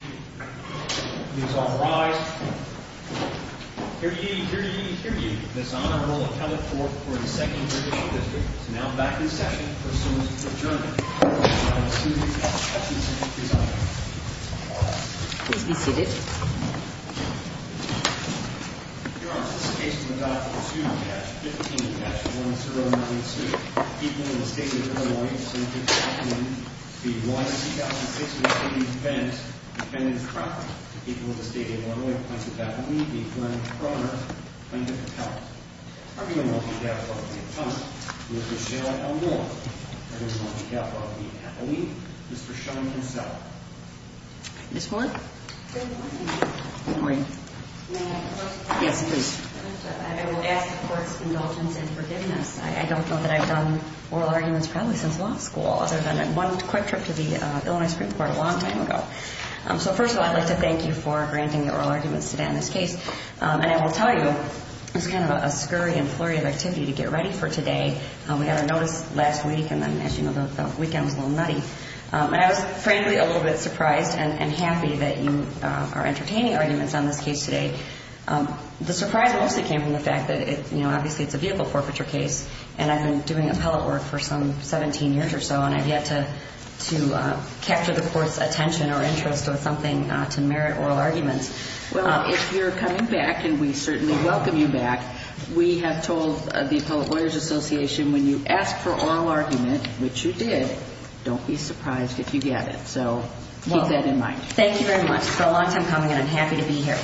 Please all rise. Hear ye, hear ye, hear ye. This Honourable Appellate Court for the 2nd British District is now back in session, pursuant to adjournment. Please be seated. Your Honour, this case is about the 2-15-1092 The people of the State of Illinois have since this afternoon v. One 2006 Mercedes-Benz defended property to the people of the State of Illinois. Plaintiff Appellate v. Fleming Provenance Plaintiff Appellate Arguing on the behalf of the Attorney Mr. Cheryl L. Moore Arguing on behalf of the Appellate Mr. Sean Kinsella Ms. Moore? Good morning, Your Honour. Good morning. May I ask a question? Yes, please. I would ask the Court's indulgence and forgiveness. I don't know that I've done oral arguments probably since law school other than one quick trip to the Illinois Supreme Court a long time ago. So first of all, I'd like to thank you for granting the oral arguments today on this case. And I will tell you, it was kind of a scurry and flurry of activity to get ready for today. We got our notice last week and then, as you know, the weekend was a little nutty. And I was frankly a little bit surprised and happy that you are entertaining arguments on this case today. The surprise mostly came from the fact that, you know, obviously it's a vehicle forfeiture case, and I've been doing appellate work for some 17 years or so, and I've yet to capture the Court's attention or interest or something to merit oral arguments. Well, if you're coming back, and we certainly welcome you back, we have told the Appellate Lawyers Association, when you ask for oral argument, which you did, don't be surprised if you get it. So keep that in mind. Thank you very much. It's been a long time coming, and I'm happy to be here.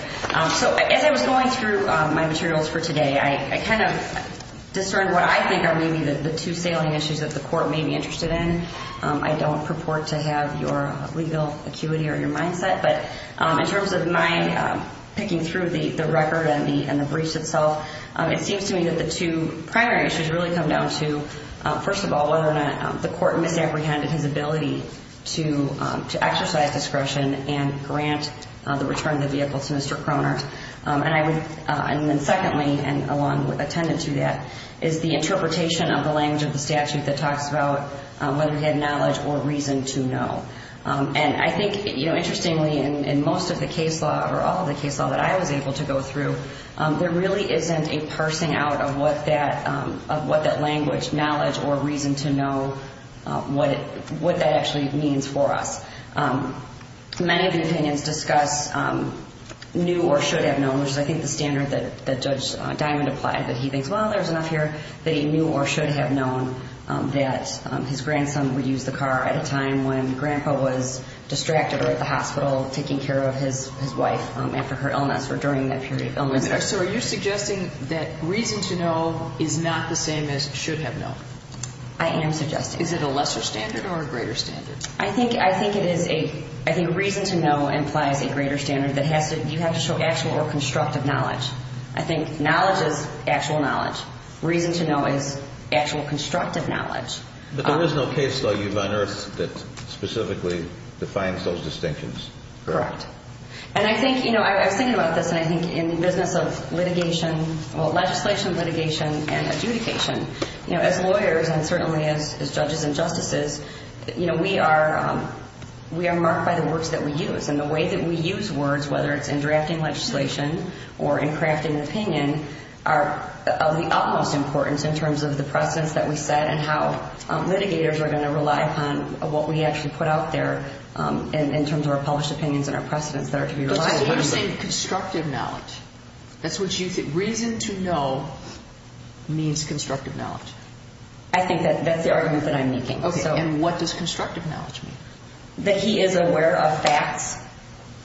So as I was going through my materials for today, I kind of discerned what I think are maybe the two sailing issues that the Court may be interested in. I don't purport to have your legal acuity or your mindset, but in terms of my picking through the record and the briefs itself, it seems to me that the two primary issues really come down to, first of all, whether or not the Court misapprehended his ability to exercise discretion and grant the return of the vehicle to Mr. Cronert. And then secondly, and along with attendance to that, is the interpretation of the language of the statute that talks about whether he had knowledge or reason to know. And I think, interestingly, in most of the case law, or all of the case law that I was able to go through, there really isn't a parsing out of what that language, knowledge, or reason to know, what that actually means for us. Many of the opinions discuss knew or should have known, which is, I think, the standard that Judge Diamond applied, that he thinks, well, there's enough here that he knew or should have known that his grandson would use the car at a time when Grandpa was distracted or at the hospital taking care of his wife after her illness or during that period of illness. So are you suggesting that reason to know is not the same as should have known? I am suggesting. Is it a lesser standard or a greater standard? I think reason to know implies a greater standard that you have to show actual or constructive knowledge. I think knowledge is actual knowledge. Reason to know is actual constructive knowledge. But there is no case law you've unearthed that specifically defines those distinctions. Correct. And I think, you know, I was thinking about this, and I think in the business of litigation, well, legislation, litigation, and adjudication, as lawyers and certainly as judges and justices, you know, we are marked by the words that we use. And the way that we use words, whether it's in drafting legislation or in crafting an opinion, are of the utmost importance in terms of the precedents that we set and how litigators are going to rely upon what we actually put out there in terms of our published opinions and our precedents that are to be relied upon. But I think you're saying constructive knowledge. That's what you think. Reason to know means constructive knowledge. I think that's the argument that I'm making. Okay. And what does constructive knowledge mean? That he is aware of facts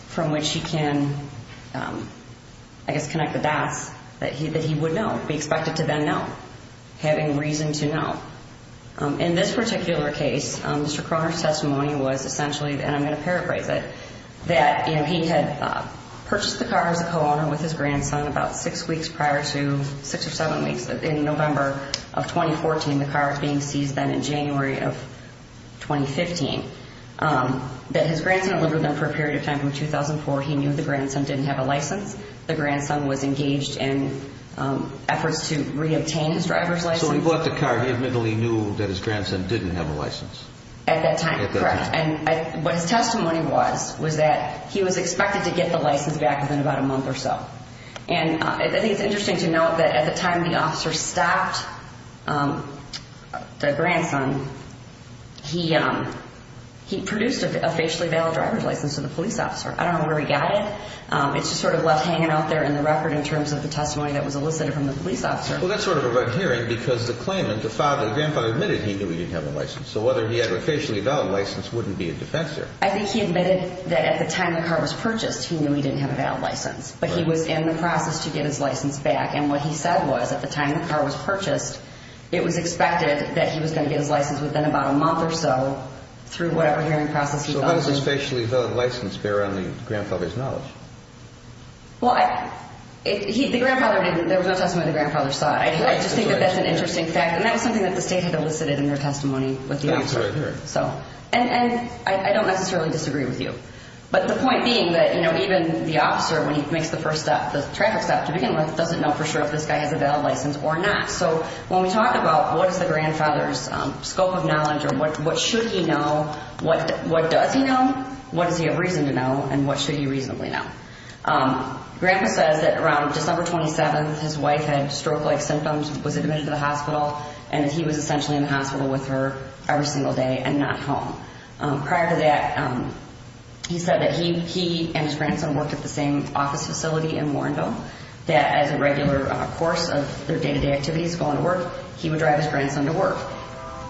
from which he can, I guess, connect the dots, that he would know, be expected to then know, having reason to know. In this particular case, Mr. Croner's testimony was essentially, and I'm going to paraphrase it, that he had purchased the car as a co-owner with his grandson about six weeks prior to, six or seven weeks in November of 2014. The car was being seized then in January of 2015. That his grandson had lived with him for a period of time from 2004. He knew the grandson didn't have a license. The grandson was engaged in efforts to reobtain his driver's license. So he bought the car. He admittedly knew that his grandson didn't have a license. At that time, correct. And what his testimony was, was that he was expected to get the license back within about a month or so. And I think it's interesting to note that at the time the officer stopped the grandson, he produced a facially valid driver's license to the police officer. I don't know where he got it. It's just sort of left hanging out there in the record in terms of the testimony that was elicited from the police officer. Well, that's sort of a red herring because the claimant, the grandfather, admitted he knew he didn't have a license. So whether he had a facially valid license wouldn't be a defense here. I think he admitted that at the time the car was purchased, he knew he didn't have a valid license. But he was in the process to get his license back. And what he said was, at the time the car was purchased, it was expected that he was going to get his license within about a month or so through whatever hearing process he thought was necessary. So how does his facially valid license bear on the grandfather's knowledge? Well, the grandfather didn't. There was no testimony the grandfather saw. I just think that that's an interesting fact. And that was something that the state had elicited in their testimony with the officer. That's a red herring. And I don't necessarily disagree with you. But the point being that, you know, even the officer, when he makes the first step, the traffic stop to begin with, doesn't know for sure if this guy has a valid license or not. So when we talk about what is the grandfather's scope of knowledge or what should he know, what does he know, what does he have reason to know, and what should he reasonably know? Grandpa says that around December 27th, his wife had stroke-like symptoms, was admitted to the hospital, and that he was essentially in the hospital with her every single day and not home. Prior to that, he said that he and his grandson worked at the same office facility in Warrenville, that as a regular course of their day-to-day activities, going to work, he would drive his grandson to work.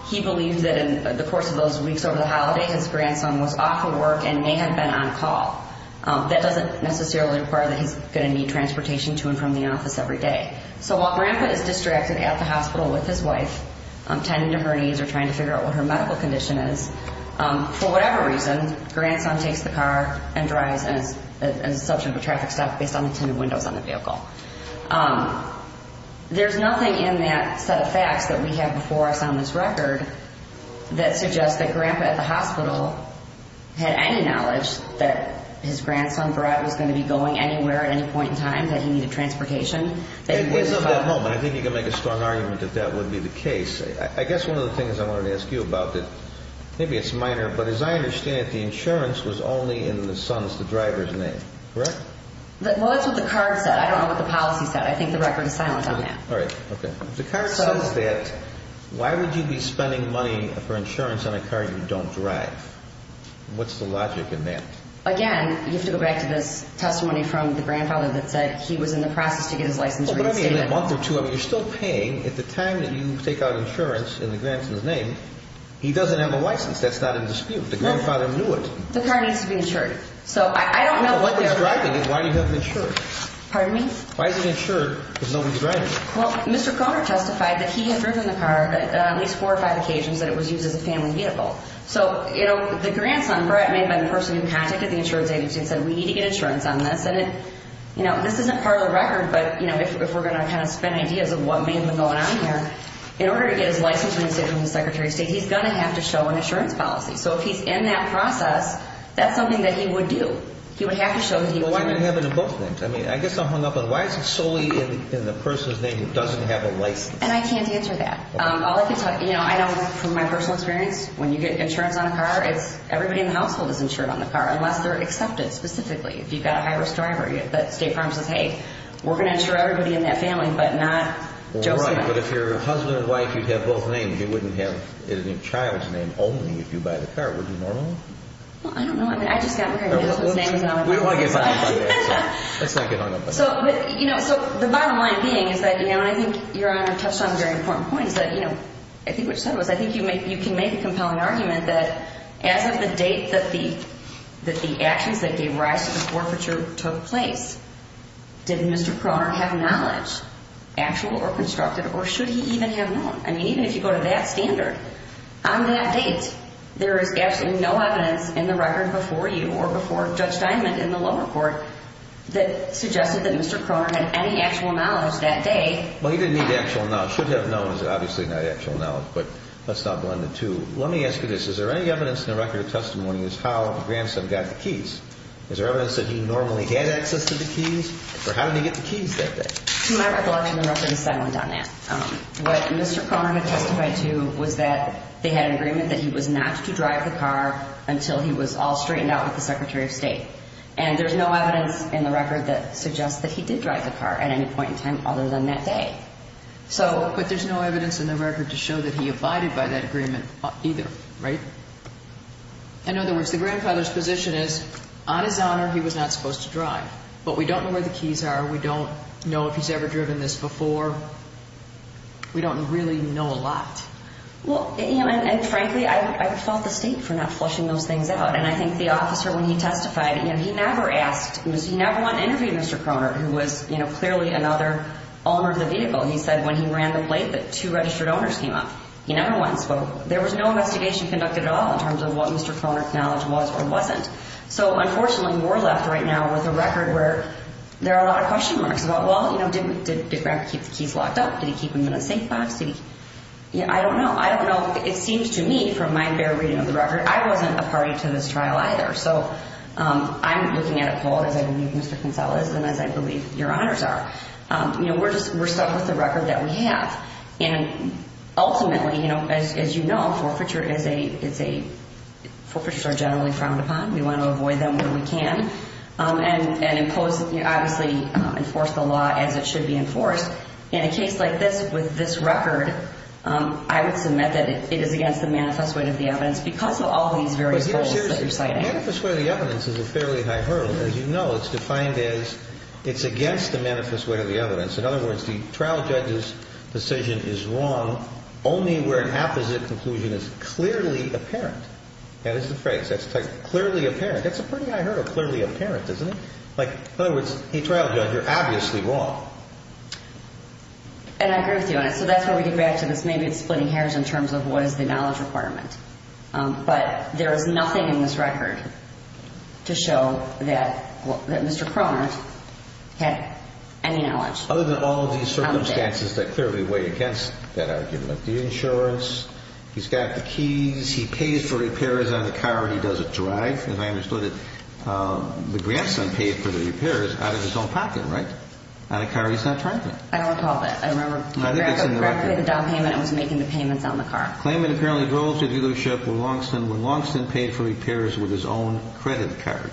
He believes that in the course of those weeks over the holiday, his grandson was off of work and may have been on call. That doesn't necessarily require that he's going to need transportation to and from the office every day. So while Grandpa is distracted at the hospital with his wife, tending to her needs or trying to figure out what her medical condition is, for whatever reason, grandson takes the car and drives as a substitute for traffic stop based on the tinted windows on the vehicle. There's nothing in that set of facts that we have before us on this record that suggests that Grandpa at the hospital had any knowledge that his grandson was going to be going anywhere at any point in time, that he needed transportation. I think you can make a strong argument that that would be the case. I guess one of the things I wanted to ask you about, maybe it's minor, but as I understand it, the insurance was only in the son's, the driver's name, correct? Well, that's what the card said. I don't know what the policy said. I think the record is silent on that. All right. Okay. The card says that why would you be spending money for insurance on a car you don't drive? What's the logic in that? Again, you have to go back to this testimony from the grandfather that said he was in the process to get his license reinstated. But in a month or two, you're still paying. At the time that you take out insurance in the grandson's name, he doesn't have a license. That's not in dispute. The grandfather knew it. The car needs to be insured. So I don't know what that is. Why do you have him insured? Pardon me? Why is he insured if nobody's driving? Well, Mr. Croner testified that he had driven the car at least four or five occasions that it was used as a family vehicle. So, you know, the grandson, I mean, by the person who contacted the insurance agency and said, we need to get insurance on this. And, you know, this isn't part of the record, but, you know, if we're going to kind of spend ideas of what may have been going on here, in order to get his license reinstated from the Secretary of State, he's going to have to show an insurance policy. So if he's in that process, that's something that he would do. He would have to show that he wanted it. Well, why not have it in both names? I mean, I guess I'm hung up on why is it solely in the person's name who doesn't have a license? And I can't answer that. All I can tell you, you know, I know from my personal experience, when you get insurance on a car, everybody in the household is insured on the car, unless they're accepted specifically. If you've got a high-risk driver, the state firm says, hey, we're going to insure everybody in that family, but not Joe Saban. Right, but if you're a husband and wife, you'd have both names. You wouldn't have it in your child's name only if you buy the car. Wouldn't you normally? Well, I don't know. I mean, I just got married. My husband's name is on the license. We don't want to get hung up on that. Let's not get hung up on that. So, you know, the bottom line being is that, you know, I think Your Honor touched on very important points that, you know, I think what you said was I think you can make a compelling argument that as of the date that the actions that gave rise to the forfeiture took place, did Mr. Croner have knowledge, actual or constructed, or should he even have known? I mean, even if you go to that standard, on that date, there is absolutely no evidence in the record before you or before Judge Diamond in the lower court that suggested that Mr. Croner had any actual knowledge that day. Well, he didn't need actual knowledge. Should have known is obviously not actual knowledge, but let's not blend the two. Let me ask you this. Is there any evidence in the record of testimony as to how the grandson got the keys? Is there evidence that he normally had access to the keys? Or how did he get the keys that day? To my recollection, the record does not go down that. What Mr. Croner had testified to was that they had an agreement that he was not to drive the car until he was all straightened out with the Secretary of State. And there's no evidence in the record that suggests that he did drive the car at any point in time other than that day. But there's no evidence in the record to show that he abided by that agreement either, right? In other words, the grandfather's position is, on his honor, he was not supposed to drive. But we don't know where the keys are. We don't know if he's ever driven this before. We don't really know a lot. Well, and frankly, I fault the state for not flushing those things out. And I think the officer, when he testified, he never asked. He never went and interviewed Mr. Croner, who was clearly another owner of the vehicle. He said when he ran the plate that two registered owners came up. He never went and spoke. There was no investigation conducted at all in terms of what Mr. Croner's knowledge was or wasn't. So, unfortunately, we're left right now with a record where there are a lot of question marks about, well, you know, did Grandpa keep the keys locked up? Did he keep them in a safe box? I don't know. I don't know. It seems to me, from my very reading of the record, I wasn't a party to this trial either. So I'm looking at it bold, as I believe Mr. Kinsella is and as I believe your honors are. You know, we're stuck with the record that we have. And ultimately, you know, as you know, forfeiture is a, it's a, forfeitures are generally frowned upon. We want to avoid them where we can and impose, obviously, enforce the law as it should be enforced. In a case like this, with this record, I would submit that it is against the manifest way of the evidence because of all these various holes that you're citing. The manifest way of the evidence is a fairly high hurdle. As you know, it's defined as it's against the manifest way of the evidence. In other words, the trial judge's decision is wrong only where an opposite conclusion is clearly apparent. That is the phrase. That's clearly apparent. That's a pretty high hurdle, clearly apparent, isn't it? Like, in other words, a trial judge, you're obviously wrong. And I agree with you on it. So that's where we get back to this. Maybe it's splitting hairs in terms of what is the knowledge requirement. But there is nothing in this record to show that Mr. Cronert had any knowledge. Other than all of these circumstances that clearly weigh against that argument. The insurance. He's got the keys. He pays for repairs on the car. He doesn't drive. And I understood that the grandson paid for the repairs out of his own pocket, right? On a car he's not driving. I don't recall that. I remember the down payment, I was making the payments on the car. Claimant apparently drove to the dealership when Longston paid for repairs with his own credit card.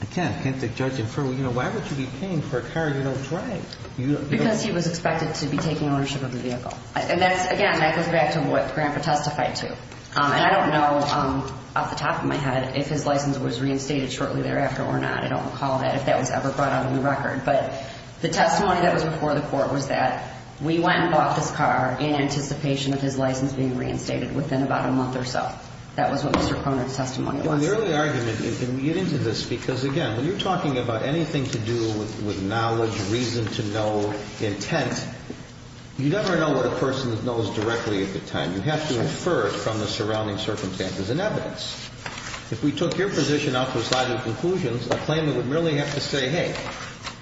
Again, can't the judge infer, you know, why would you be paying for a car you don't drive? Because he was expected to be taking ownership of the vehicle. And that's, again, that goes back to what Grandpa testified to. And I don't know off the top of my head if his license was reinstated shortly thereafter or not. I don't recall that, if that was ever brought out in the record. But the testimony that was before the court was that we went and bought this car in anticipation of his license being reinstated within about a month or so. That was what Mr. Cronin's testimony was. Well, the early argument, and we get into this because, again, when you're talking about anything to do with knowledge, reason to know, intent, you never know what a person knows directly at the time. You have to infer it from the surrounding circumstances and evidence. If we took your position out to a side of conclusions, a claimant would merely have to say, hey,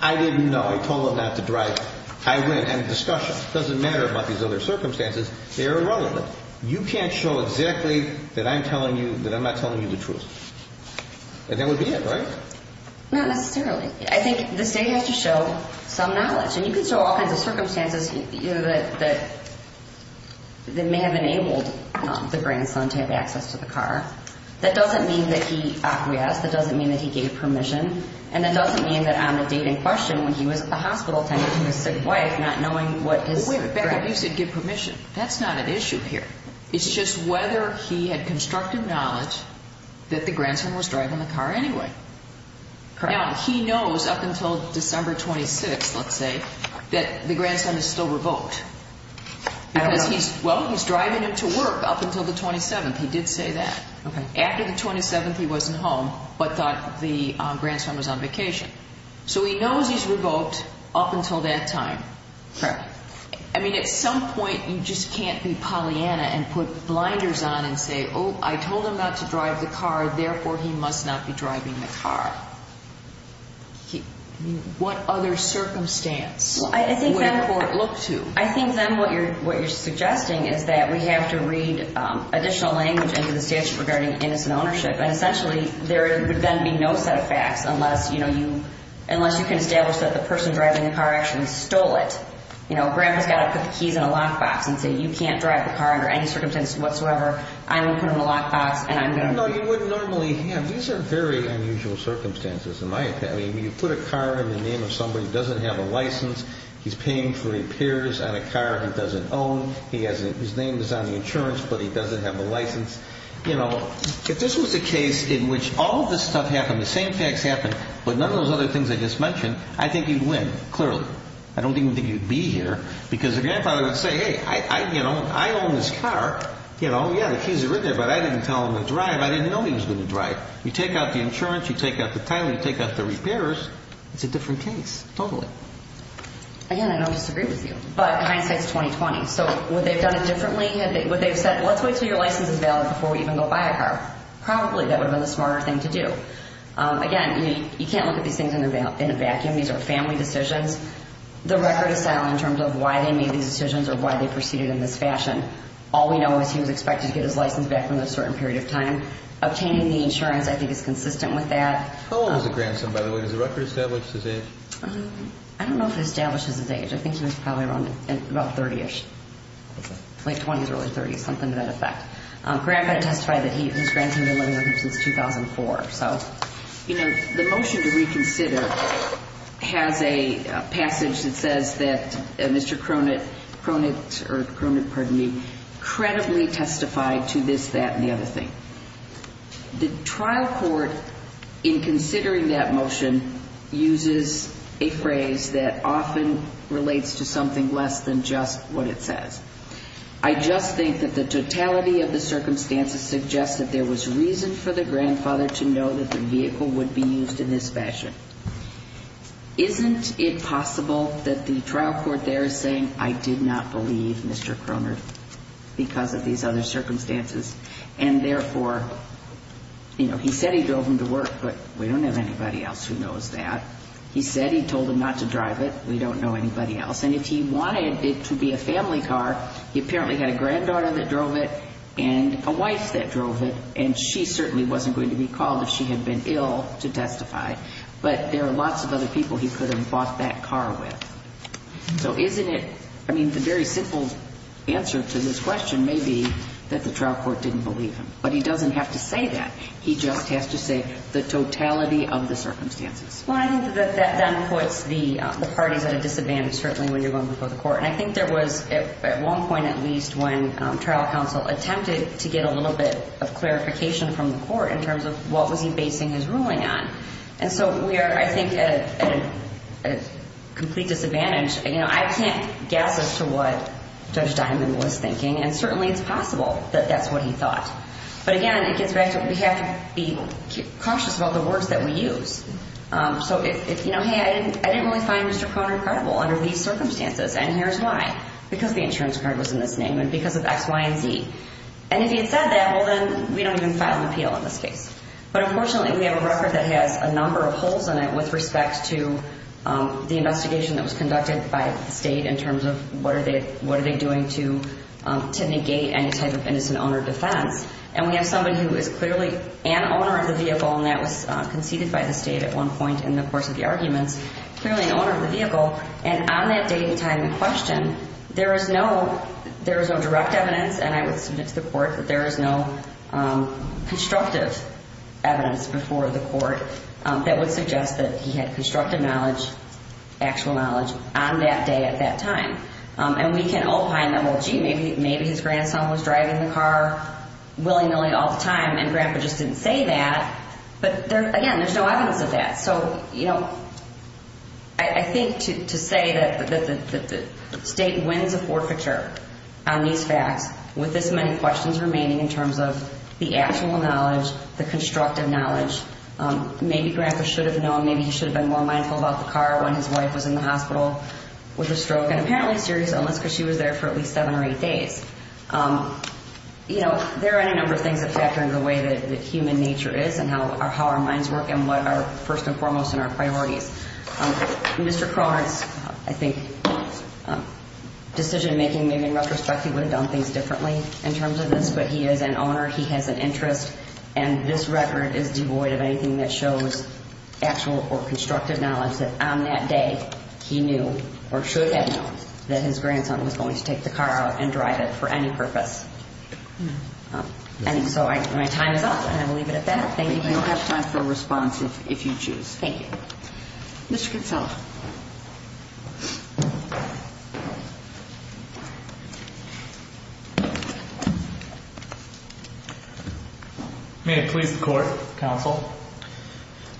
I didn't know. I told him not to drive. I went and discussed it. It doesn't matter about these other circumstances. They are irrelevant. You can't show exactly that I'm telling you that I'm not telling you the truth. And that would be it, right? Not necessarily. I think the state has to show some knowledge. And you can show all kinds of circumstances that may have enabled the grandson to have access to the car. That doesn't mean that he acquiesced. That doesn't mean that he gave permission. And that doesn't mean that on the date in question, when he was at the hospital, attending to his sick wife, not knowing what is correct. But you said give permission. That's not an issue here. It's just whether he had constructive knowledge that the grandson was driving the car anyway. Correct. Now, he knows up until December 26th, let's say, that the grandson is still revoked. Because he's, well, he's driving him to work up until the 27th. He did say that. Okay. After the 27th, he wasn't home but thought the grandson was on vacation. So he knows he's revoked up until that time. Correct. I mean, at some point, you just can't be Pollyanna and put blinders on and say, Oh, I told him not to drive the car. Therefore, he must not be driving the car. What other circumstance would a court look to? I think then what you're suggesting is that we have to read additional language into the statute regarding innocent ownership. And essentially, there would then be no set of facts unless, you know, you can establish that the person driving the car actually stole it. You know, Grandpa's got to put the keys in a lockbox and say, You can't drive the car under any circumstance whatsoever. I will put it in a lockbox. No, you wouldn't normally have. These are very unusual circumstances in my opinion. You put a car in the name of somebody who doesn't have a license. He's paying for repairs on a car he doesn't own. His name is on the insurance, but he doesn't have a license. You know, if this was a case in which all of this stuff happened, the same facts happened, but none of those other things I just mentioned, I think you'd win, clearly. I don't even think you'd be here because the grandfather would say, Hey, you know, I own this car. You know, yeah, the keys are in there, but I didn't tell him to drive. I didn't know he was going to drive. You take out the insurance. You take out the title. You take out the repairs. It's a different case, totally. Again, I don't disagree with you, but hindsight is 20-20. So would they have done it differently? Would they have said, Let's wait until your license is valid before we even go buy a car? Probably that would have been the smarter thing to do. Again, you can't look at these things in a vacuum. These are family decisions. The record is sound in terms of why they made these decisions or why they proceeded in this fashion. All we know is he was expected to get his license back within a certain period of time. Obtaining the insurance, I think, is consistent with that. How old was the grandson, by the way? Does the record establish his age? I don't know if it establishes his age. I think he was probably around about 30-ish, late 20s or early 30s, something to that effect. Grandpa testified that his grandson had been living with him since 2004. The motion to reconsider has a passage that says that Mr. Cronin credibly testified to this, that, and the other thing. The trial court, in considering that motion, uses a phrase that often relates to something less than just what it says. I just think that the totality of the circumstances suggests that there was reason for the grandfather to know that the vehicle would be used in this fashion. Isn't it possible that the trial court there is saying, I did not believe Mr. Cronin because of these other circumstances, and therefore, you know, he said he drove him to work, but we don't have anybody else who knows that. He said he told him not to drive it. We don't know anybody else. And if he wanted it to be a family car, he apparently had a granddaughter that drove it and a wife that drove it, and she certainly wasn't going to be called if she had been ill to testify. But there are lots of other people he could have bought that car with. So isn't it, I mean, the very simple answer to this question may be that the trial court didn't believe him. But he doesn't have to say that. He just has to say the totality of the circumstances. Well, I think that then puts the parties at a disadvantage, certainly, when you're going before the court. And I think there was at one point at least when trial counsel attempted to get a little bit of clarification from the court in terms of what was he basing his ruling on. And so we are, I think, at a complete disadvantage. You know, I can't guess as to what Judge Diamond was thinking, and certainly it's possible that that's what he thought. But, again, it gets back to we have to be cautious about the words that we use. So if, you know, hey, I didn't really find Mr. Conner credible under these circumstances, and here's why. Because the insurance card was in this name and because of X, Y, and Z. And if he had said that, well, then we don't even file an appeal in this case. But, unfortunately, we have a record that has a number of holes in it with respect to the investigation that was conducted by the state in terms of what are they doing to negate any type of innocent owner defense. And we have somebody who is clearly an owner of the vehicle, and that was conceded by the state at one point in the course of the arguments, clearly an owner of the vehicle. And on that date and time in question, there is no direct evidence, and I would submit to the court that there is no constructive evidence before the court that would suggest that he had constructive knowledge, actual knowledge, on that day at that time. And we can all find that, well, gee, maybe his grandson was driving the car willy-nilly all the time, and Grandpa just didn't say that. But, again, there's no evidence of that. So, you know, I think to say that the state wins a forfeiture on these facts with this many questions remaining in terms of the actual knowledge, the constructive knowledge. Maybe Grandpa should have known. Maybe he should have been more mindful about the car when his wife was in the hospital with a stroke and apparently a serious illness because she was there for at least seven or eight days. You know, there are any number of things that factor into the way that human nature is and how our minds work and what are first and foremost in our priorities. Mr. Carr, I think decision-making, maybe in retrospect, he would have done things differently in terms of this, but he is an owner. He has an interest, and this record is devoid of anything that shows actual or constructive knowledge that on that day he knew or should have known that his grandson was going to take the car out and drive it for any purpose. And so my time is up, and I will leave it at that. Thank you very much. You have time for a response if you choose. Thank you. Mr. Kinsella. May it please the Court, Counsel.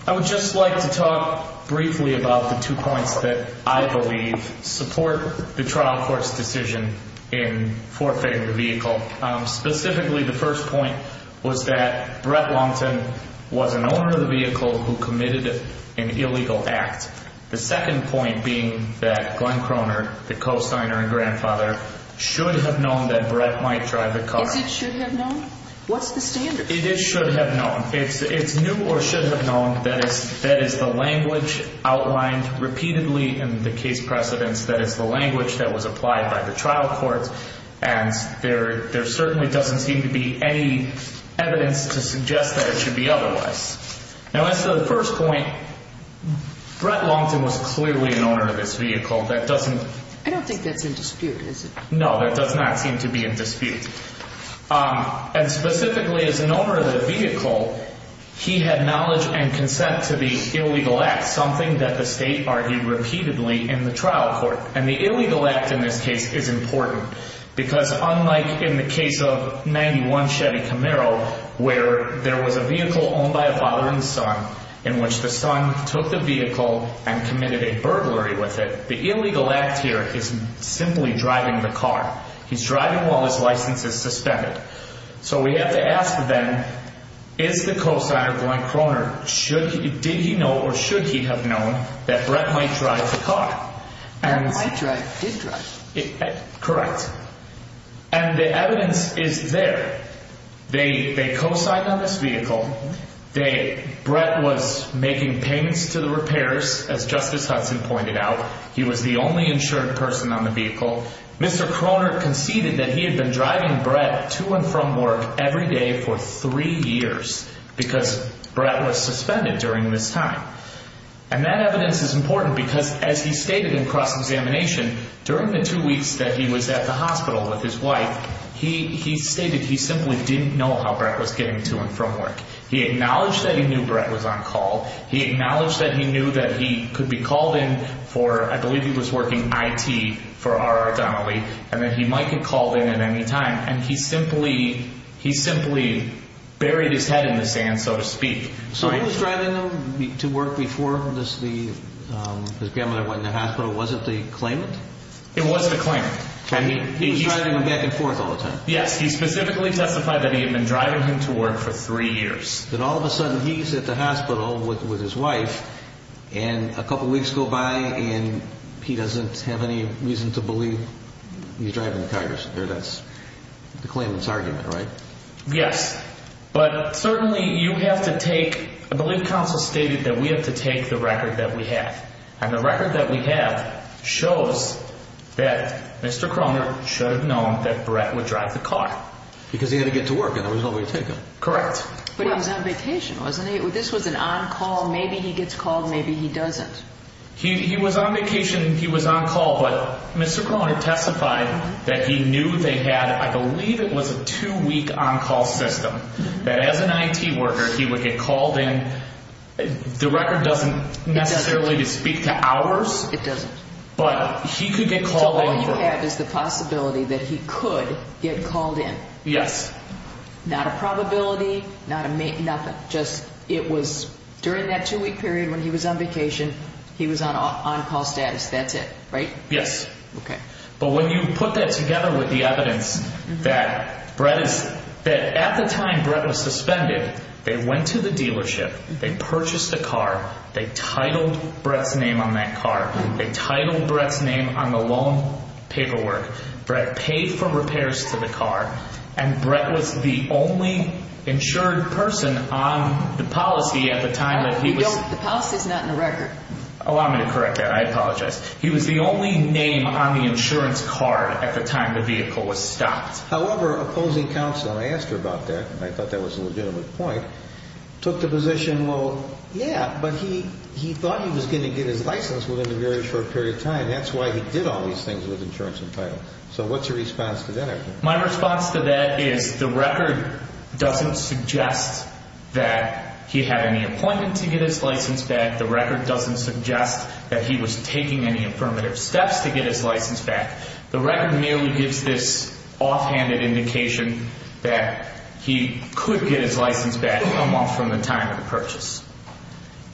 I would just like to talk briefly about the two points that I believe support the trial court's decision in forfeiting the vehicle. Specifically, the first point was that Brett Longton was an owner of the vehicle who committed an illegal act. The second point being that Glenn Croner, the co-signer and grandfather, should have known that Brett might drive the car. Is it should have known? What's the standard? It is should have known. It's knew or should have known. That is the language outlined repeatedly in the case precedence. That is the language that was applied by the trial court, and there certainly doesn't seem to be any evidence to suggest that it should be otherwise. Now, as to the first point, Brett Longton was clearly an owner of this vehicle. That doesn't – I don't think that's in dispute, is it? No, that does not seem to be in dispute. And specifically, as an owner of the vehicle, he had knowledge and consent to the illegal act, something that the state argued repeatedly in the trial court. And the illegal act in this case is important, because unlike in the case of 91 Chevy Camaro, where there was a vehicle owned by a father and son, in which the son took the vehicle and committed a burglary with it, the illegal act here is simply driving the car. He's driving while his license is suspended. So we have to ask then, is the co-signer, Glenn Croner, did he know or should he have known that Brett might drive the car? And might drive, did drive. Correct. And the evidence is there. They co-signed on this vehicle. Brett was making payments to the repairs, as Justice Hudson pointed out. He was the only insured person on the vehicle. Mr. Croner conceded that he had been driving Brett to and from work every day for three years because Brett was suspended during this time. And that evidence is important because, as he stated in cross-examination, during the two weeks that he was at the hospital with his wife, he stated he simply didn't know how Brett was getting to and from work. He acknowledged that he knew Brett was on call. He acknowledged that he knew that he could be called in for, I believe he was working IT for RR Donnelly, and that he might get called in at any time. And he simply buried his head in the sand, so to speak. So he was driving him to work before his grandmother went in the hospital. Was it the claimant? It was the claimant. And he was driving him back and forth all the time. Yes. He specifically testified that he had been driving him to work for three years. Then all of a sudden he's at the hospital with his wife, and a couple weeks go by and he doesn't have any reason to believe he's driving the car. That's the claimant's argument, right? Yes. But certainly you have to take, I believe counsel stated that we have to take the record that we have. And the record that we have shows that Mr. Kroner should have known that Brett would drive the car. Because he had to get to work and there was no way to take him. Correct. But he was on vacation, wasn't he? This was an on-call, maybe he gets called, maybe he doesn't. He was on vacation, he was on call, but Mr. Kroner testified that he knew they had, I believe it was a two-week on-call system, that as an IT worker he would get called in. The record doesn't necessarily speak to hours. It doesn't. But he could get called in. So all you have is the possibility that he could get called in. Yes. Not a probability, nothing. Just it was during that two-week period when he was on vacation, he was on on-call status. That's it, right? Yes. Okay. But when you put that together with the evidence that at the time Brett was suspended, they went to the dealership, they purchased a car, they titled Brett's name on that car, they titled Brett's name on the loan paperwork, Brett paid for repairs to the car, and Brett was the only insured person on the policy at the time. The policy is not in the record. Allow me to correct that. I apologize. He was the only name on the insurance card at the time the vehicle was stopped. However, opposing counsel, and I asked her about that, and I thought that was a legitimate point, took the position, well, yeah, but he thought he was going to get his license within a very short period of time. That's why he did all these things with insurance and title. So what's your response to that? My response to that is the record doesn't suggest that he had any appointment to get his license back. The record doesn't suggest that he was taking any affirmative steps to get his license back. The record merely gives this offhanded indication that he could get his license back a month from the time of the purchase.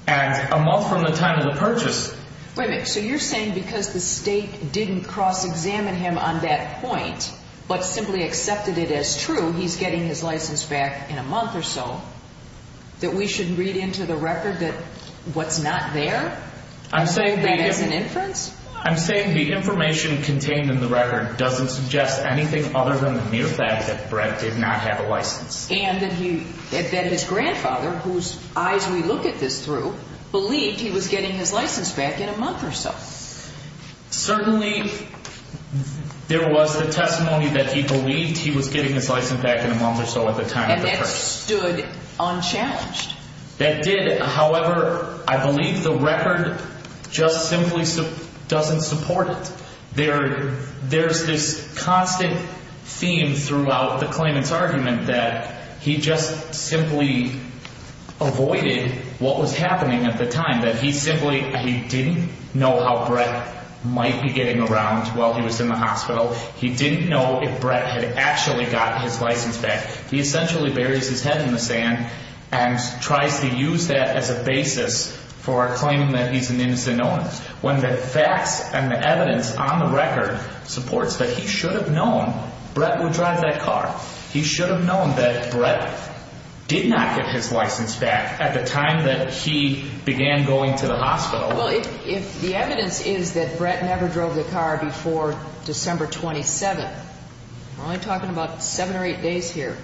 And a month from the time of the purchase. Wait a minute. So you're saying because the state didn't cross-examine him on that point but simply accepted it as true, he's getting his license back in a month or so, that we should read into the record that what's not there? I'm saying the information contained in the record doesn't suggest anything other than the mere fact that Brett did not have a license. And that his grandfather, whose eyes we look at this through, believed he was getting his license back in a month or so. Certainly, there was the testimony that he believed he was getting his license back in a month or so at the time of the purchase. That stood unchallenged. That did. However, I believe the record just simply doesn't support it. There's this constant theme throughout the claimant's argument that he just simply avoided what was happening at the time, that he simply didn't know how Brett might be getting around while he was in the hospital. He didn't know if Brett had actually got his license back. He essentially buries his head in the sand and tries to use that as a basis for claiming that he's an innocent known. When the facts and the evidence on the record supports that he should have known Brett would drive that car. He should have known that Brett did not get his license back at the time that he began going to the hospital. Well, if the evidence is that Brett never drove the car before December 27th, we're only talking about seven or eight days here,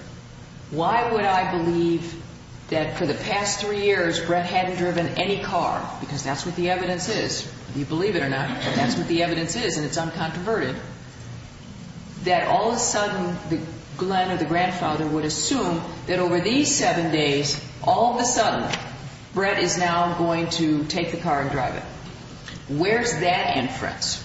why would I believe that for the past three years Brett hadn't driven any car? Because that's what the evidence is. Believe it or not, that's what the evidence is, and it's uncontroverted, that all of a sudden Glenn or the grandfather would assume that over these seven days, all of a sudden Brett is now going to take the car and drive it. Where's that inference?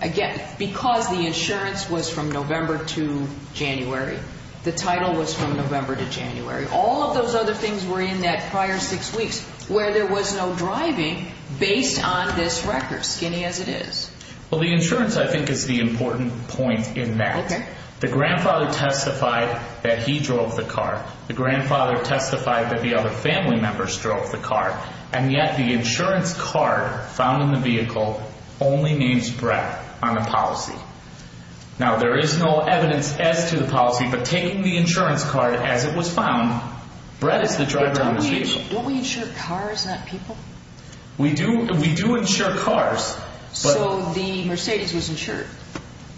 Again, because the insurance was from November to January, the title was from November to January, all of those other things were in that prior six weeks where there was no driving based on this record, skinny as it is. Well, the insurance, I think, is the important point in that. Okay. The grandfather testified that he drove the car. The grandfather testified that the other family members drove the car, and yet the insurance card found in the vehicle only names Brett on the policy. Now, there is no evidence as to the policy, but taking the insurance card as it was found, Brett is the driver in this vehicle. Don't we insure cars, not people? We do insure cars. So the Mercedes was insured?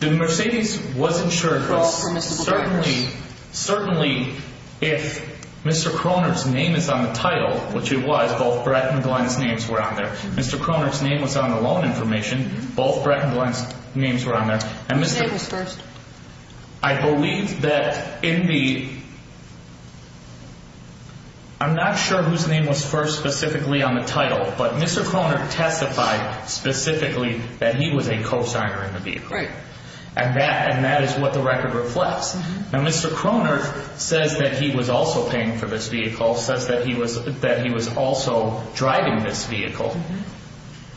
The Mercedes was insured. Because certainly if Mr. Kroner's name is on the title, which it was, both Brett and Glenn's names were on there. Mr. Kroner's name was on the loan information. Both Brett and Glenn's names were on there. Whose name was first? I believe that in the ñ I'm not sure whose name was first specifically on the title, but Mr. Kroner testified specifically that he was a cosigner in the vehicle. Right. And that is what the record reflects. Now, Mr. Kroner says that he was also paying for this vehicle, says that he was also driving this vehicle,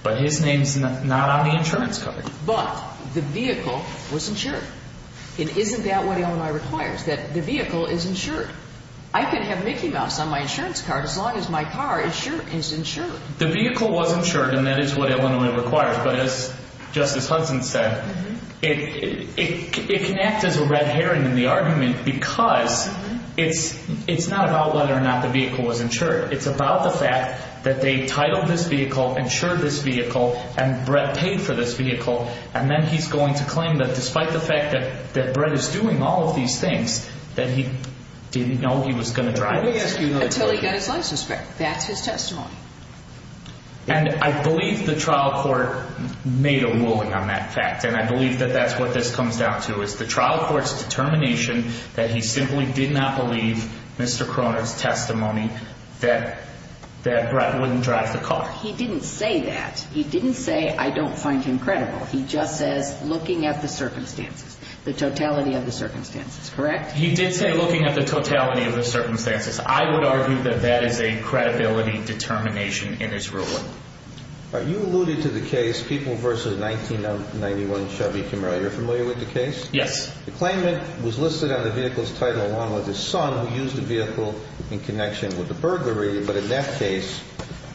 but his name's not on the insurance card. But the vehicle was insured. And isn't that what Illinois requires, that the vehicle is insured? I can have Mickey Mouse on my insurance card as long as my car is insured. The vehicle was insured, and that is what Illinois requires. But as Justice Hudson said, it can act as a red herring in the argument because it's not about whether or not the vehicle was insured. It's about the fact that they titled this vehicle, insured this vehicle, and Brett paid for this vehicle. And then he's going to claim that despite the fact that Brett is doing all of these things, that he didn't know he was going to drive it. Let me ask you another question. Until he got his license back. That's his testimony. And I believe the trial court made a ruling on that fact, and I believe that that's what this comes down to, is the trial court's determination that he simply did not believe Mr. Cronin's testimony that Brett wouldn't drive the car. He didn't say that. He didn't say, I don't find him credible. He just says, looking at the circumstances, the totality of the circumstances, correct? He did say looking at the totality of the circumstances. I would argue that that is a credibility determination in his ruling. You alluded to the case, People v. 1991 Chevy Camaro. You're familiar with the case? Yes. The claimant was listed on the vehicle's title along with his son, who used the vehicle in connection with the burglary. But in that case,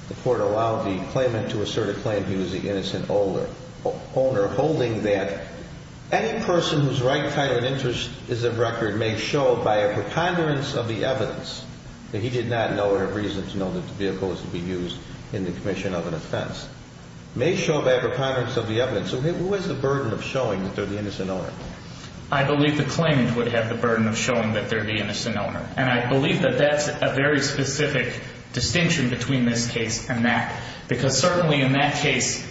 the court allowed the claimant to assert a claim he was the innocent owner, holding that any person whose right, title, and interest is of record may show by a preconderance of the evidence that he did not know or have reason to know that the vehicle was to be used in the commission of an offense. May show by a preconderance of the evidence. So who has the burden of showing that they're the innocent owner? I believe the claimant would have the burden of showing that they're the innocent owner. And I believe that that's a very specific distinction between this case and that. Because certainly in that case,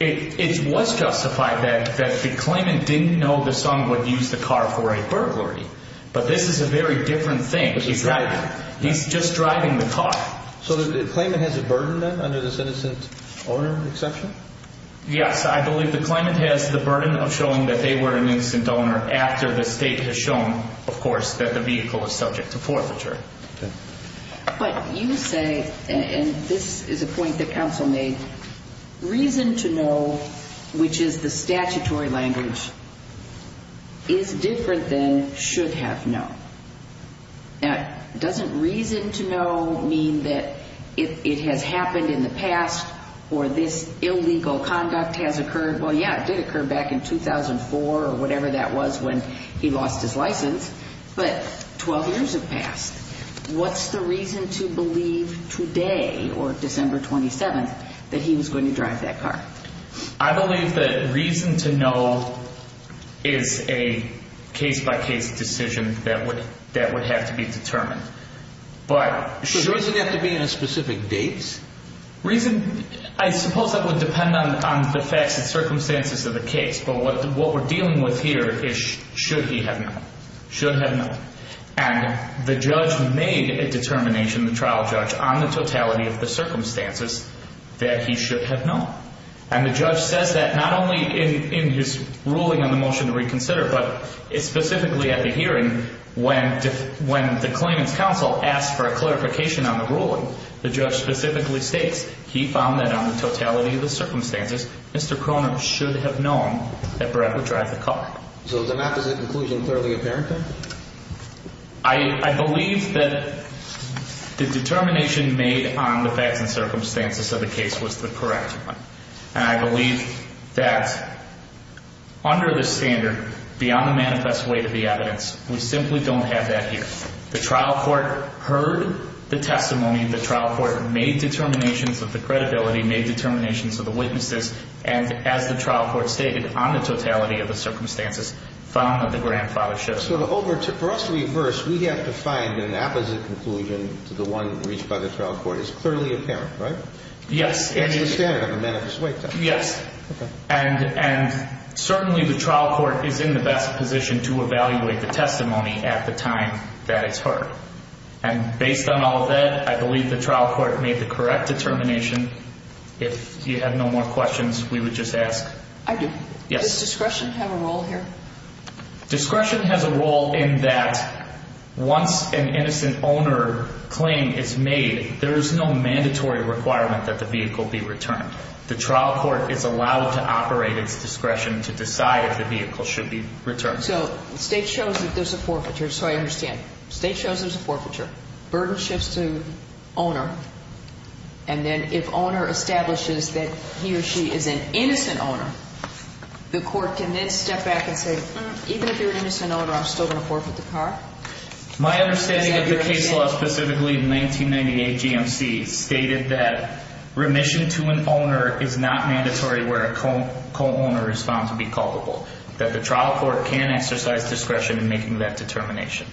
it was justified that the claimant didn't know the son would use the car for a burglary. But this is a very different thing. Exactly. He's just driving the car. So the claimant has a burden then under this innocent owner exception? Yes. I believe the claimant has the burden of showing that they were an innocent owner after the state has shown, of course, that the vehicle was subject to forfeiture. Okay. But you say, and this is a point that counsel made, reason to know, which is the statutory language, is different than should have known. Now, doesn't reason to know mean that it has happened in the past or this illegal conduct has occurred? Well, yeah, it did occur back in 2004 or whatever that was when he lost his license. But 12 years have passed. What's the reason to believe today or December 27th that he was going to drive that car? I believe that reason to know is a case-by-case decision that would have to be determined. So it doesn't have to be in a specific date? I suppose that would depend on the facts and circumstances of the case. But what we're dealing with here is should he have known, should have known. And the judge made a determination, the trial judge, on the totality of the circumstances that he should have known. And the judge says that not only in his ruling on the motion to reconsider, but specifically at the hearing when the claimant's counsel asked for a clarification on the ruling. The judge specifically states he found that on the totality of the circumstances, Mr. Cronin should have known that Brett would drive the car. So the map is a conclusion clearly apparent then? I believe that the determination made on the facts and circumstances of the case was the correct one. And I believe that under the standard, beyond the manifest weight of the evidence, we simply don't have that here. The trial court heard the testimony. The trial court made determinations of the credibility, made determinations of the witnesses. And as the trial court stated, on the totality of the circumstances, found that the grandfather should have known. So for us to reverse, we have to find an opposite conclusion to the one reached by the trial court. It's clearly apparent, right? Yes. And it was standard on the manifest weight. Yes. Okay. And certainly the trial court is in the best position to evaluate the testimony at the time that it's heard. And based on all of that, I believe the trial court made the correct determination. If you have no more questions, we would just ask. I do. Does discretion have a role here? Discretion has a role in that once an innocent owner claim is made, there is no mandatory requirement that the vehicle be returned. The trial court is allowed to operate its discretion to decide if the vehicle should be returned. So the state shows that there's a forfeiture, so I understand. State shows there's a forfeiture. Burden shifts to owner. And then if owner establishes that he or she is an innocent owner, the court can then step back and say, even if you're an innocent owner, I'm still going to forfeit the car? My understanding of the case law, specifically the 1998 GMC, stated that remission to an owner is not mandatory where a co-owner is found to be culpable, that the trial court can exercise discretion in making that determination.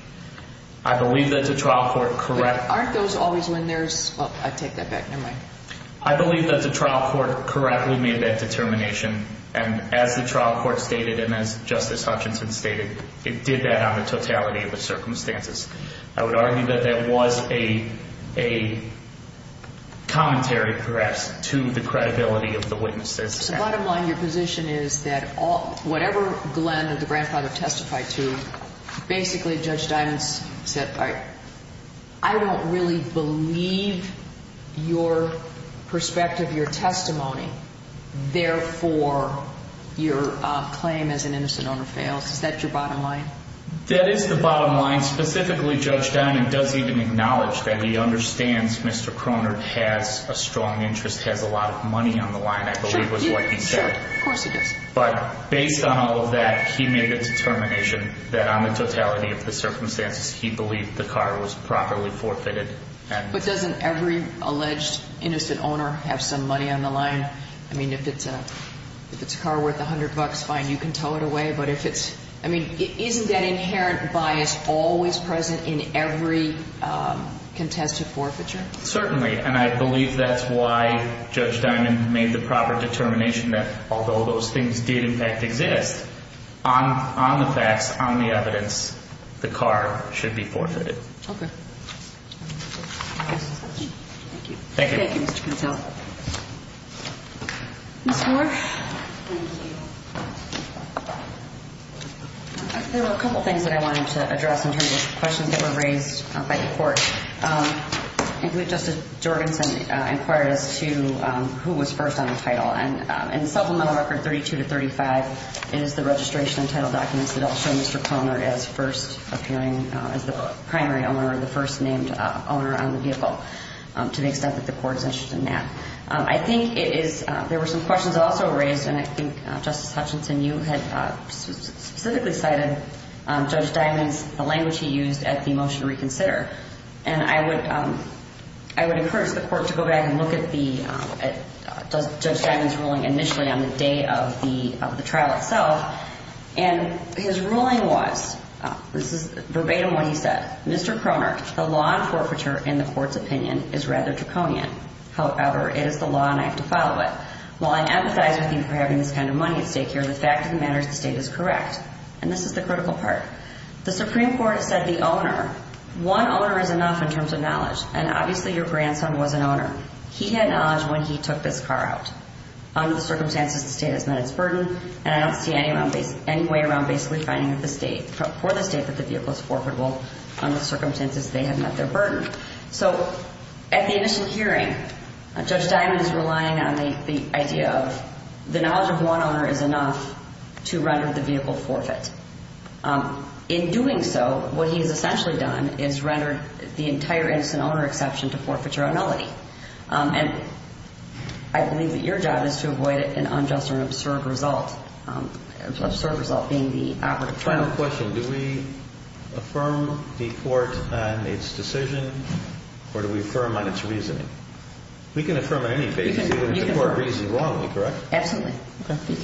I believe that the trial court corrects. Aren't those always when there's, well, I take that back, never mind. I believe that the trial court correctly made that determination, and as the trial court stated and as Justice Hutchinson stated, it did that on the totality of the circumstances. I would argue that that was a commentary, perhaps, to the credibility of the witnesses. So bottom line, your position is that whatever Glenn or the grandfather testified to, basically Judge Dimond said, I don't really believe your perspective, your testimony. Therefore, your claim as an innocent owner fails. Is that your bottom line? That is the bottom line. Specifically, Judge Dimond does even acknowledge that he understands Mr. Krohnert has a strong interest, has a lot of money on the line, I believe was what he said. Sure, of course he does. But based on all of that, he made a determination that on the totality of the circumstances, he believed the car was properly forfeited. But doesn't every alleged innocent owner have some money on the line? I mean, if it's a car worth $100, fine, you can tow it away. But if it's, I mean, isn't that inherent bias always present in every contested forfeiture? Certainly, and I believe that's why Judge Dimond made the proper determination that although those things did in fact exist, on the facts, on the evidence, the car should be forfeited. Okay. Thank you. Thank you. Thank you, Mr. Contell. Ms. Moore. Thank you. There were a couple things that I wanted to address in terms of questions that were raised by the court. I think that Justice Jorgenson inquired as to who was first on the title. And in Supplemental Record 32 to 35, it is the registration and title documents that all show Mr. Conner as first appearing as the primary owner, the first named owner on the vehicle, to the extent that the court is interested in that. I think it is – there were some questions also raised, and I think, Justice Hutchinson, you had specifically cited Judge Dimond's – the language he used at the motion to reconsider. And I would encourage the court to go back and look at Judge Dimond's ruling initially on the day of the trial itself. And his ruling was – this is verbatim what he said. Mr. Conner, the law on forfeiture in the court's opinion is rather draconian. However, it is the law, and I have to follow it. While I empathize with you for having this kind of money at stake here, the fact of the matter is the state is correct. And this is the critical part. The Supreme Court has said the owner – one owner is enough in terms of knowledge, and obviously your grandson was an owner. He had knowledge when he took this car out. Under the circumstances, the state has met its burden, and I don't see any way around basically finding for the state that the vehicle is forfeitable under the circumstances they have met their burden. So at the initial hearing, Judge Dimond is relying on the idea of the knowledge of one owner is enough to render the vehicle forfeit. In doing so, what he has essentially done is rendered the entire innocent owner exception to forfeiture a nullity. And I believe that your job is to avoid an unjust or an absurd result, absurd result being the operative trial. One final question. Do we affirm the court on its decision, or do we affirm on its reasoning? We can affirm on any basis, even if the court reasoned wrongly, correct? Absolutely.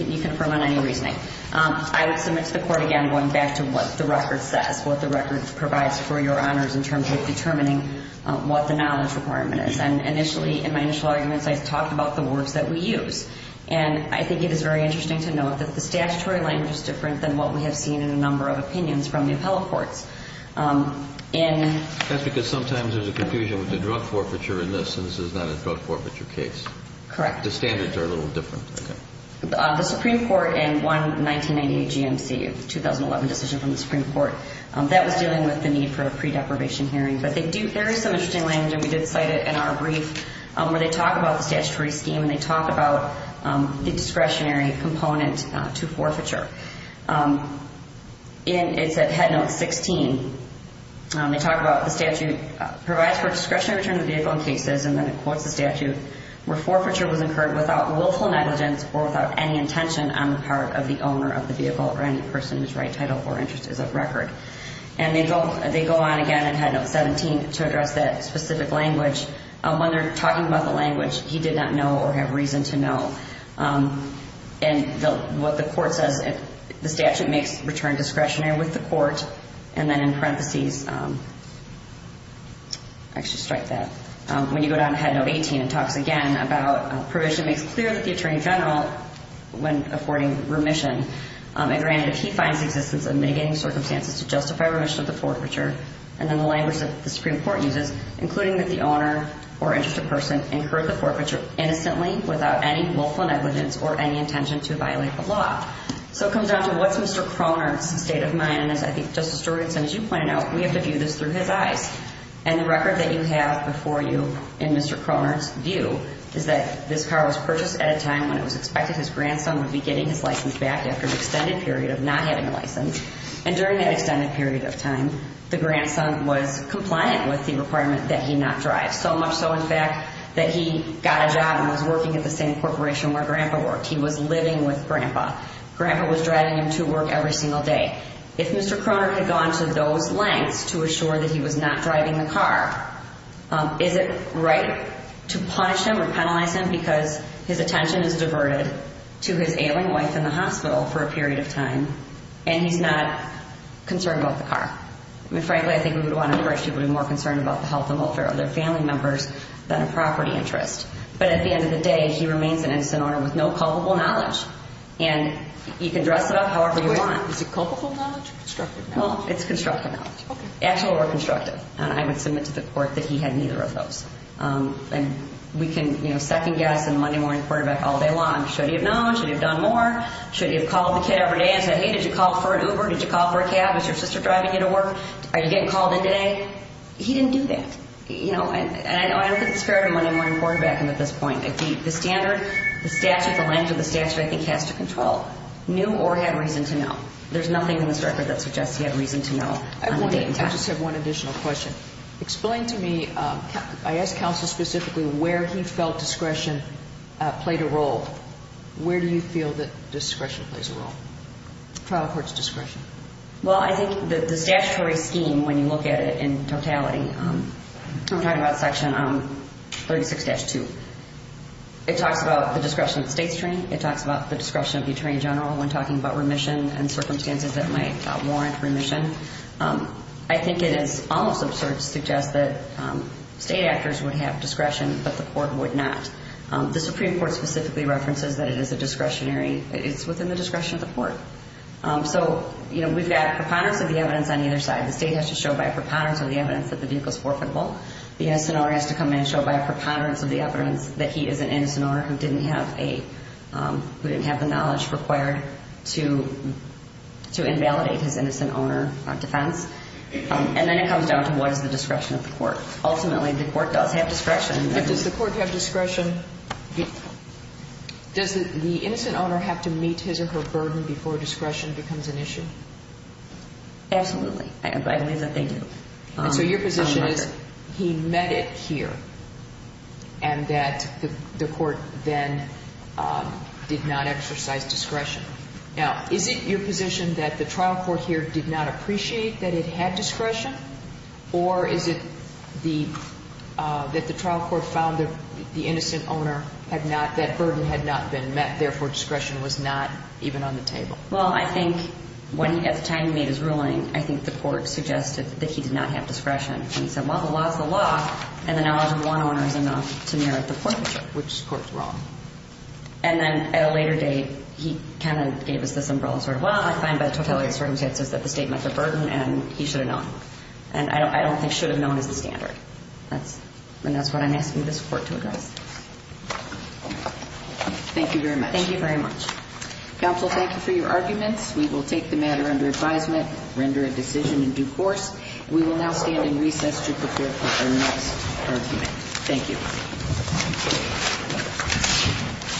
You can affirm on any reasoning. I would submit to the court, again, going back to what the record says, what the record provides for your honors in terms of determining what the knowledge requirement is. And initially, in my initial arguments, I talked about the words that we use. And I think it is very interesting to note that the statutory language is different than what we have seen in a number of opinions from the appellate courts. That's because sometimes there's a confusion with the drug forfeiture in this, and this is not a drug forfeiture case. Correct. The standards are a little different. The Supreme Court in one 1998 GMC of the 2011 decision from the Supreme Court, that was dealing with the need for a pre-deprivation hearing. But there is some interesting language, and we did cite it in our brief, where they talk about the statutory scheme and they talk about the discretionary component to forfeiture. It's at Head Note 16. They talk about the statute provides for discretionary return of the vehicle in cases, and then it quotes the statute, where forfeiture was incurred without willful negligence or without any intention on the part of the owner of the vehicle or any person whose right title or interest is of record. And they go on again in Head Note 17 to address that specific language. When they're talking about the language, he did not know or have reason to know. And what the court says, the statute makes return discretionary with the court, and then in parentheses, actually strike that. When you go down to Head Note 18, it talks again about provision makes clear that the attorney general, when affording remission, and granted if he finds the existence of mitigating circumstances to justify remission of the forfeiture, and then the language that the Supreme Court uses, including that the owner or interested person incurred the forfeiture innocently without any willful negligence or any intention to violate the law. So it comes down to what's Mr. Cronert's state of mind. And as I think Justice Jorgensen, as you pointed out, we have to view this through his eyes. And the record that you have before you in Mr. Cronert's view is that this car was purchased at a time when it was expected his grandson would be getting his license back after an extended period of not having a license. And during that extended period of time, the grandson was compliant with the requirement that he not drive. So much so, in fact, that he got a job and was working at the same corporation where Grandpa worked. He was living with Grandpa. Grandpa was driving him to work every single day. If Mr. Cronert had gone to those lengths to assure that he was not driving the car, is it right to punish him or penalize him because his attention is diverted to his ailing wife in the hospital for a period of time and he's not concerned about the car? I mean, frankly, I think we would want to encourage people to be more concerned about the health and welfare of their family members than a property interest. But at the end of the day, he remains an innocent owner with no culpable knowledge. And you can dress it up however you want. Is it culpable knowledge or constructive knowledge? Well, it's constructive knowledge. Okay. Actual or constructive. And I would submit to the court that he had neither of those. And we can, you know, second guess and Monday morning quarterback all day long, should he have known? Should he have done more? Should he have called the kid every day and said, hey, did you call for an Uber? Did you call for a cab? Is your sister driving you to work? Are you getting called in today? He didn't do that. You know, and I don't think it's fair to Monday morning quarterback him at this point. The standard, the statute, the length of the statute I think has to control. Knew or had reason to know. There's nothing in this record that suggests he had reason to know. I just have one additional question. Explain to me, I asked counsel specifically where he felt discretion played a role. Where do you feel that discretion plays a role? Trial court's discretion. Well, I think the statutory scheme, when you look at it in totality, I'm talking about Section 36-2. It talks about the discretion of the state's attorney. It talks about the discretion of the attorney general when talking about remission and circumstances that might warrant remission. I think it is almost absurd to suggest that state actors would have discretion, but the court would not. The Supreme Court specifically references that it is a discretionary, it's within the discretion of the court. So, you know, we've got preponderance of the evidence on either side. The state has to show by a preponderance of the evidence that the vehicle is forfeitable. The innocent owner has to come in and show by a preponderance of the evidence that he is an innocent owner who didn't have a, who didn't have the knowledge required to invalidate his innocent owner defense. And then it comes down to what is the discretion of the court. Ultimately, the court does have discretion. But does the court have discretion? Does the innocent owner have to meet his or her burden before discretion becomes an issue? Absolutely. I believe that they do. And so your position is he met it here and that the court then did not exercise discretion. Now, is it your position that the trial court here did not appreciate that it had discretion, or is it that the trial court found that the innocent owner had not, that burden had not been met, therefore discretion was not even on the table? Well, I think at the time he made his ruling, I think the court suggested that he did not have discretion. And he said, well, the law is the law, and the knowledge of one owner is enough to merit the court to judge which court is wrong. And then at a later date, he kind of gave us this umbrella sort of, well, I find by totality of circumstances that the state met the burden and he should have known. And I don't think should have known is the standard. And that's what I'm asking this court to address. Thank you very much. Thank you very much. Counsel, thank you for your arguments. We will take the matter under advisement, render a decision in due course. We will now stand in recess to prepare for our next argument. Thank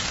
you.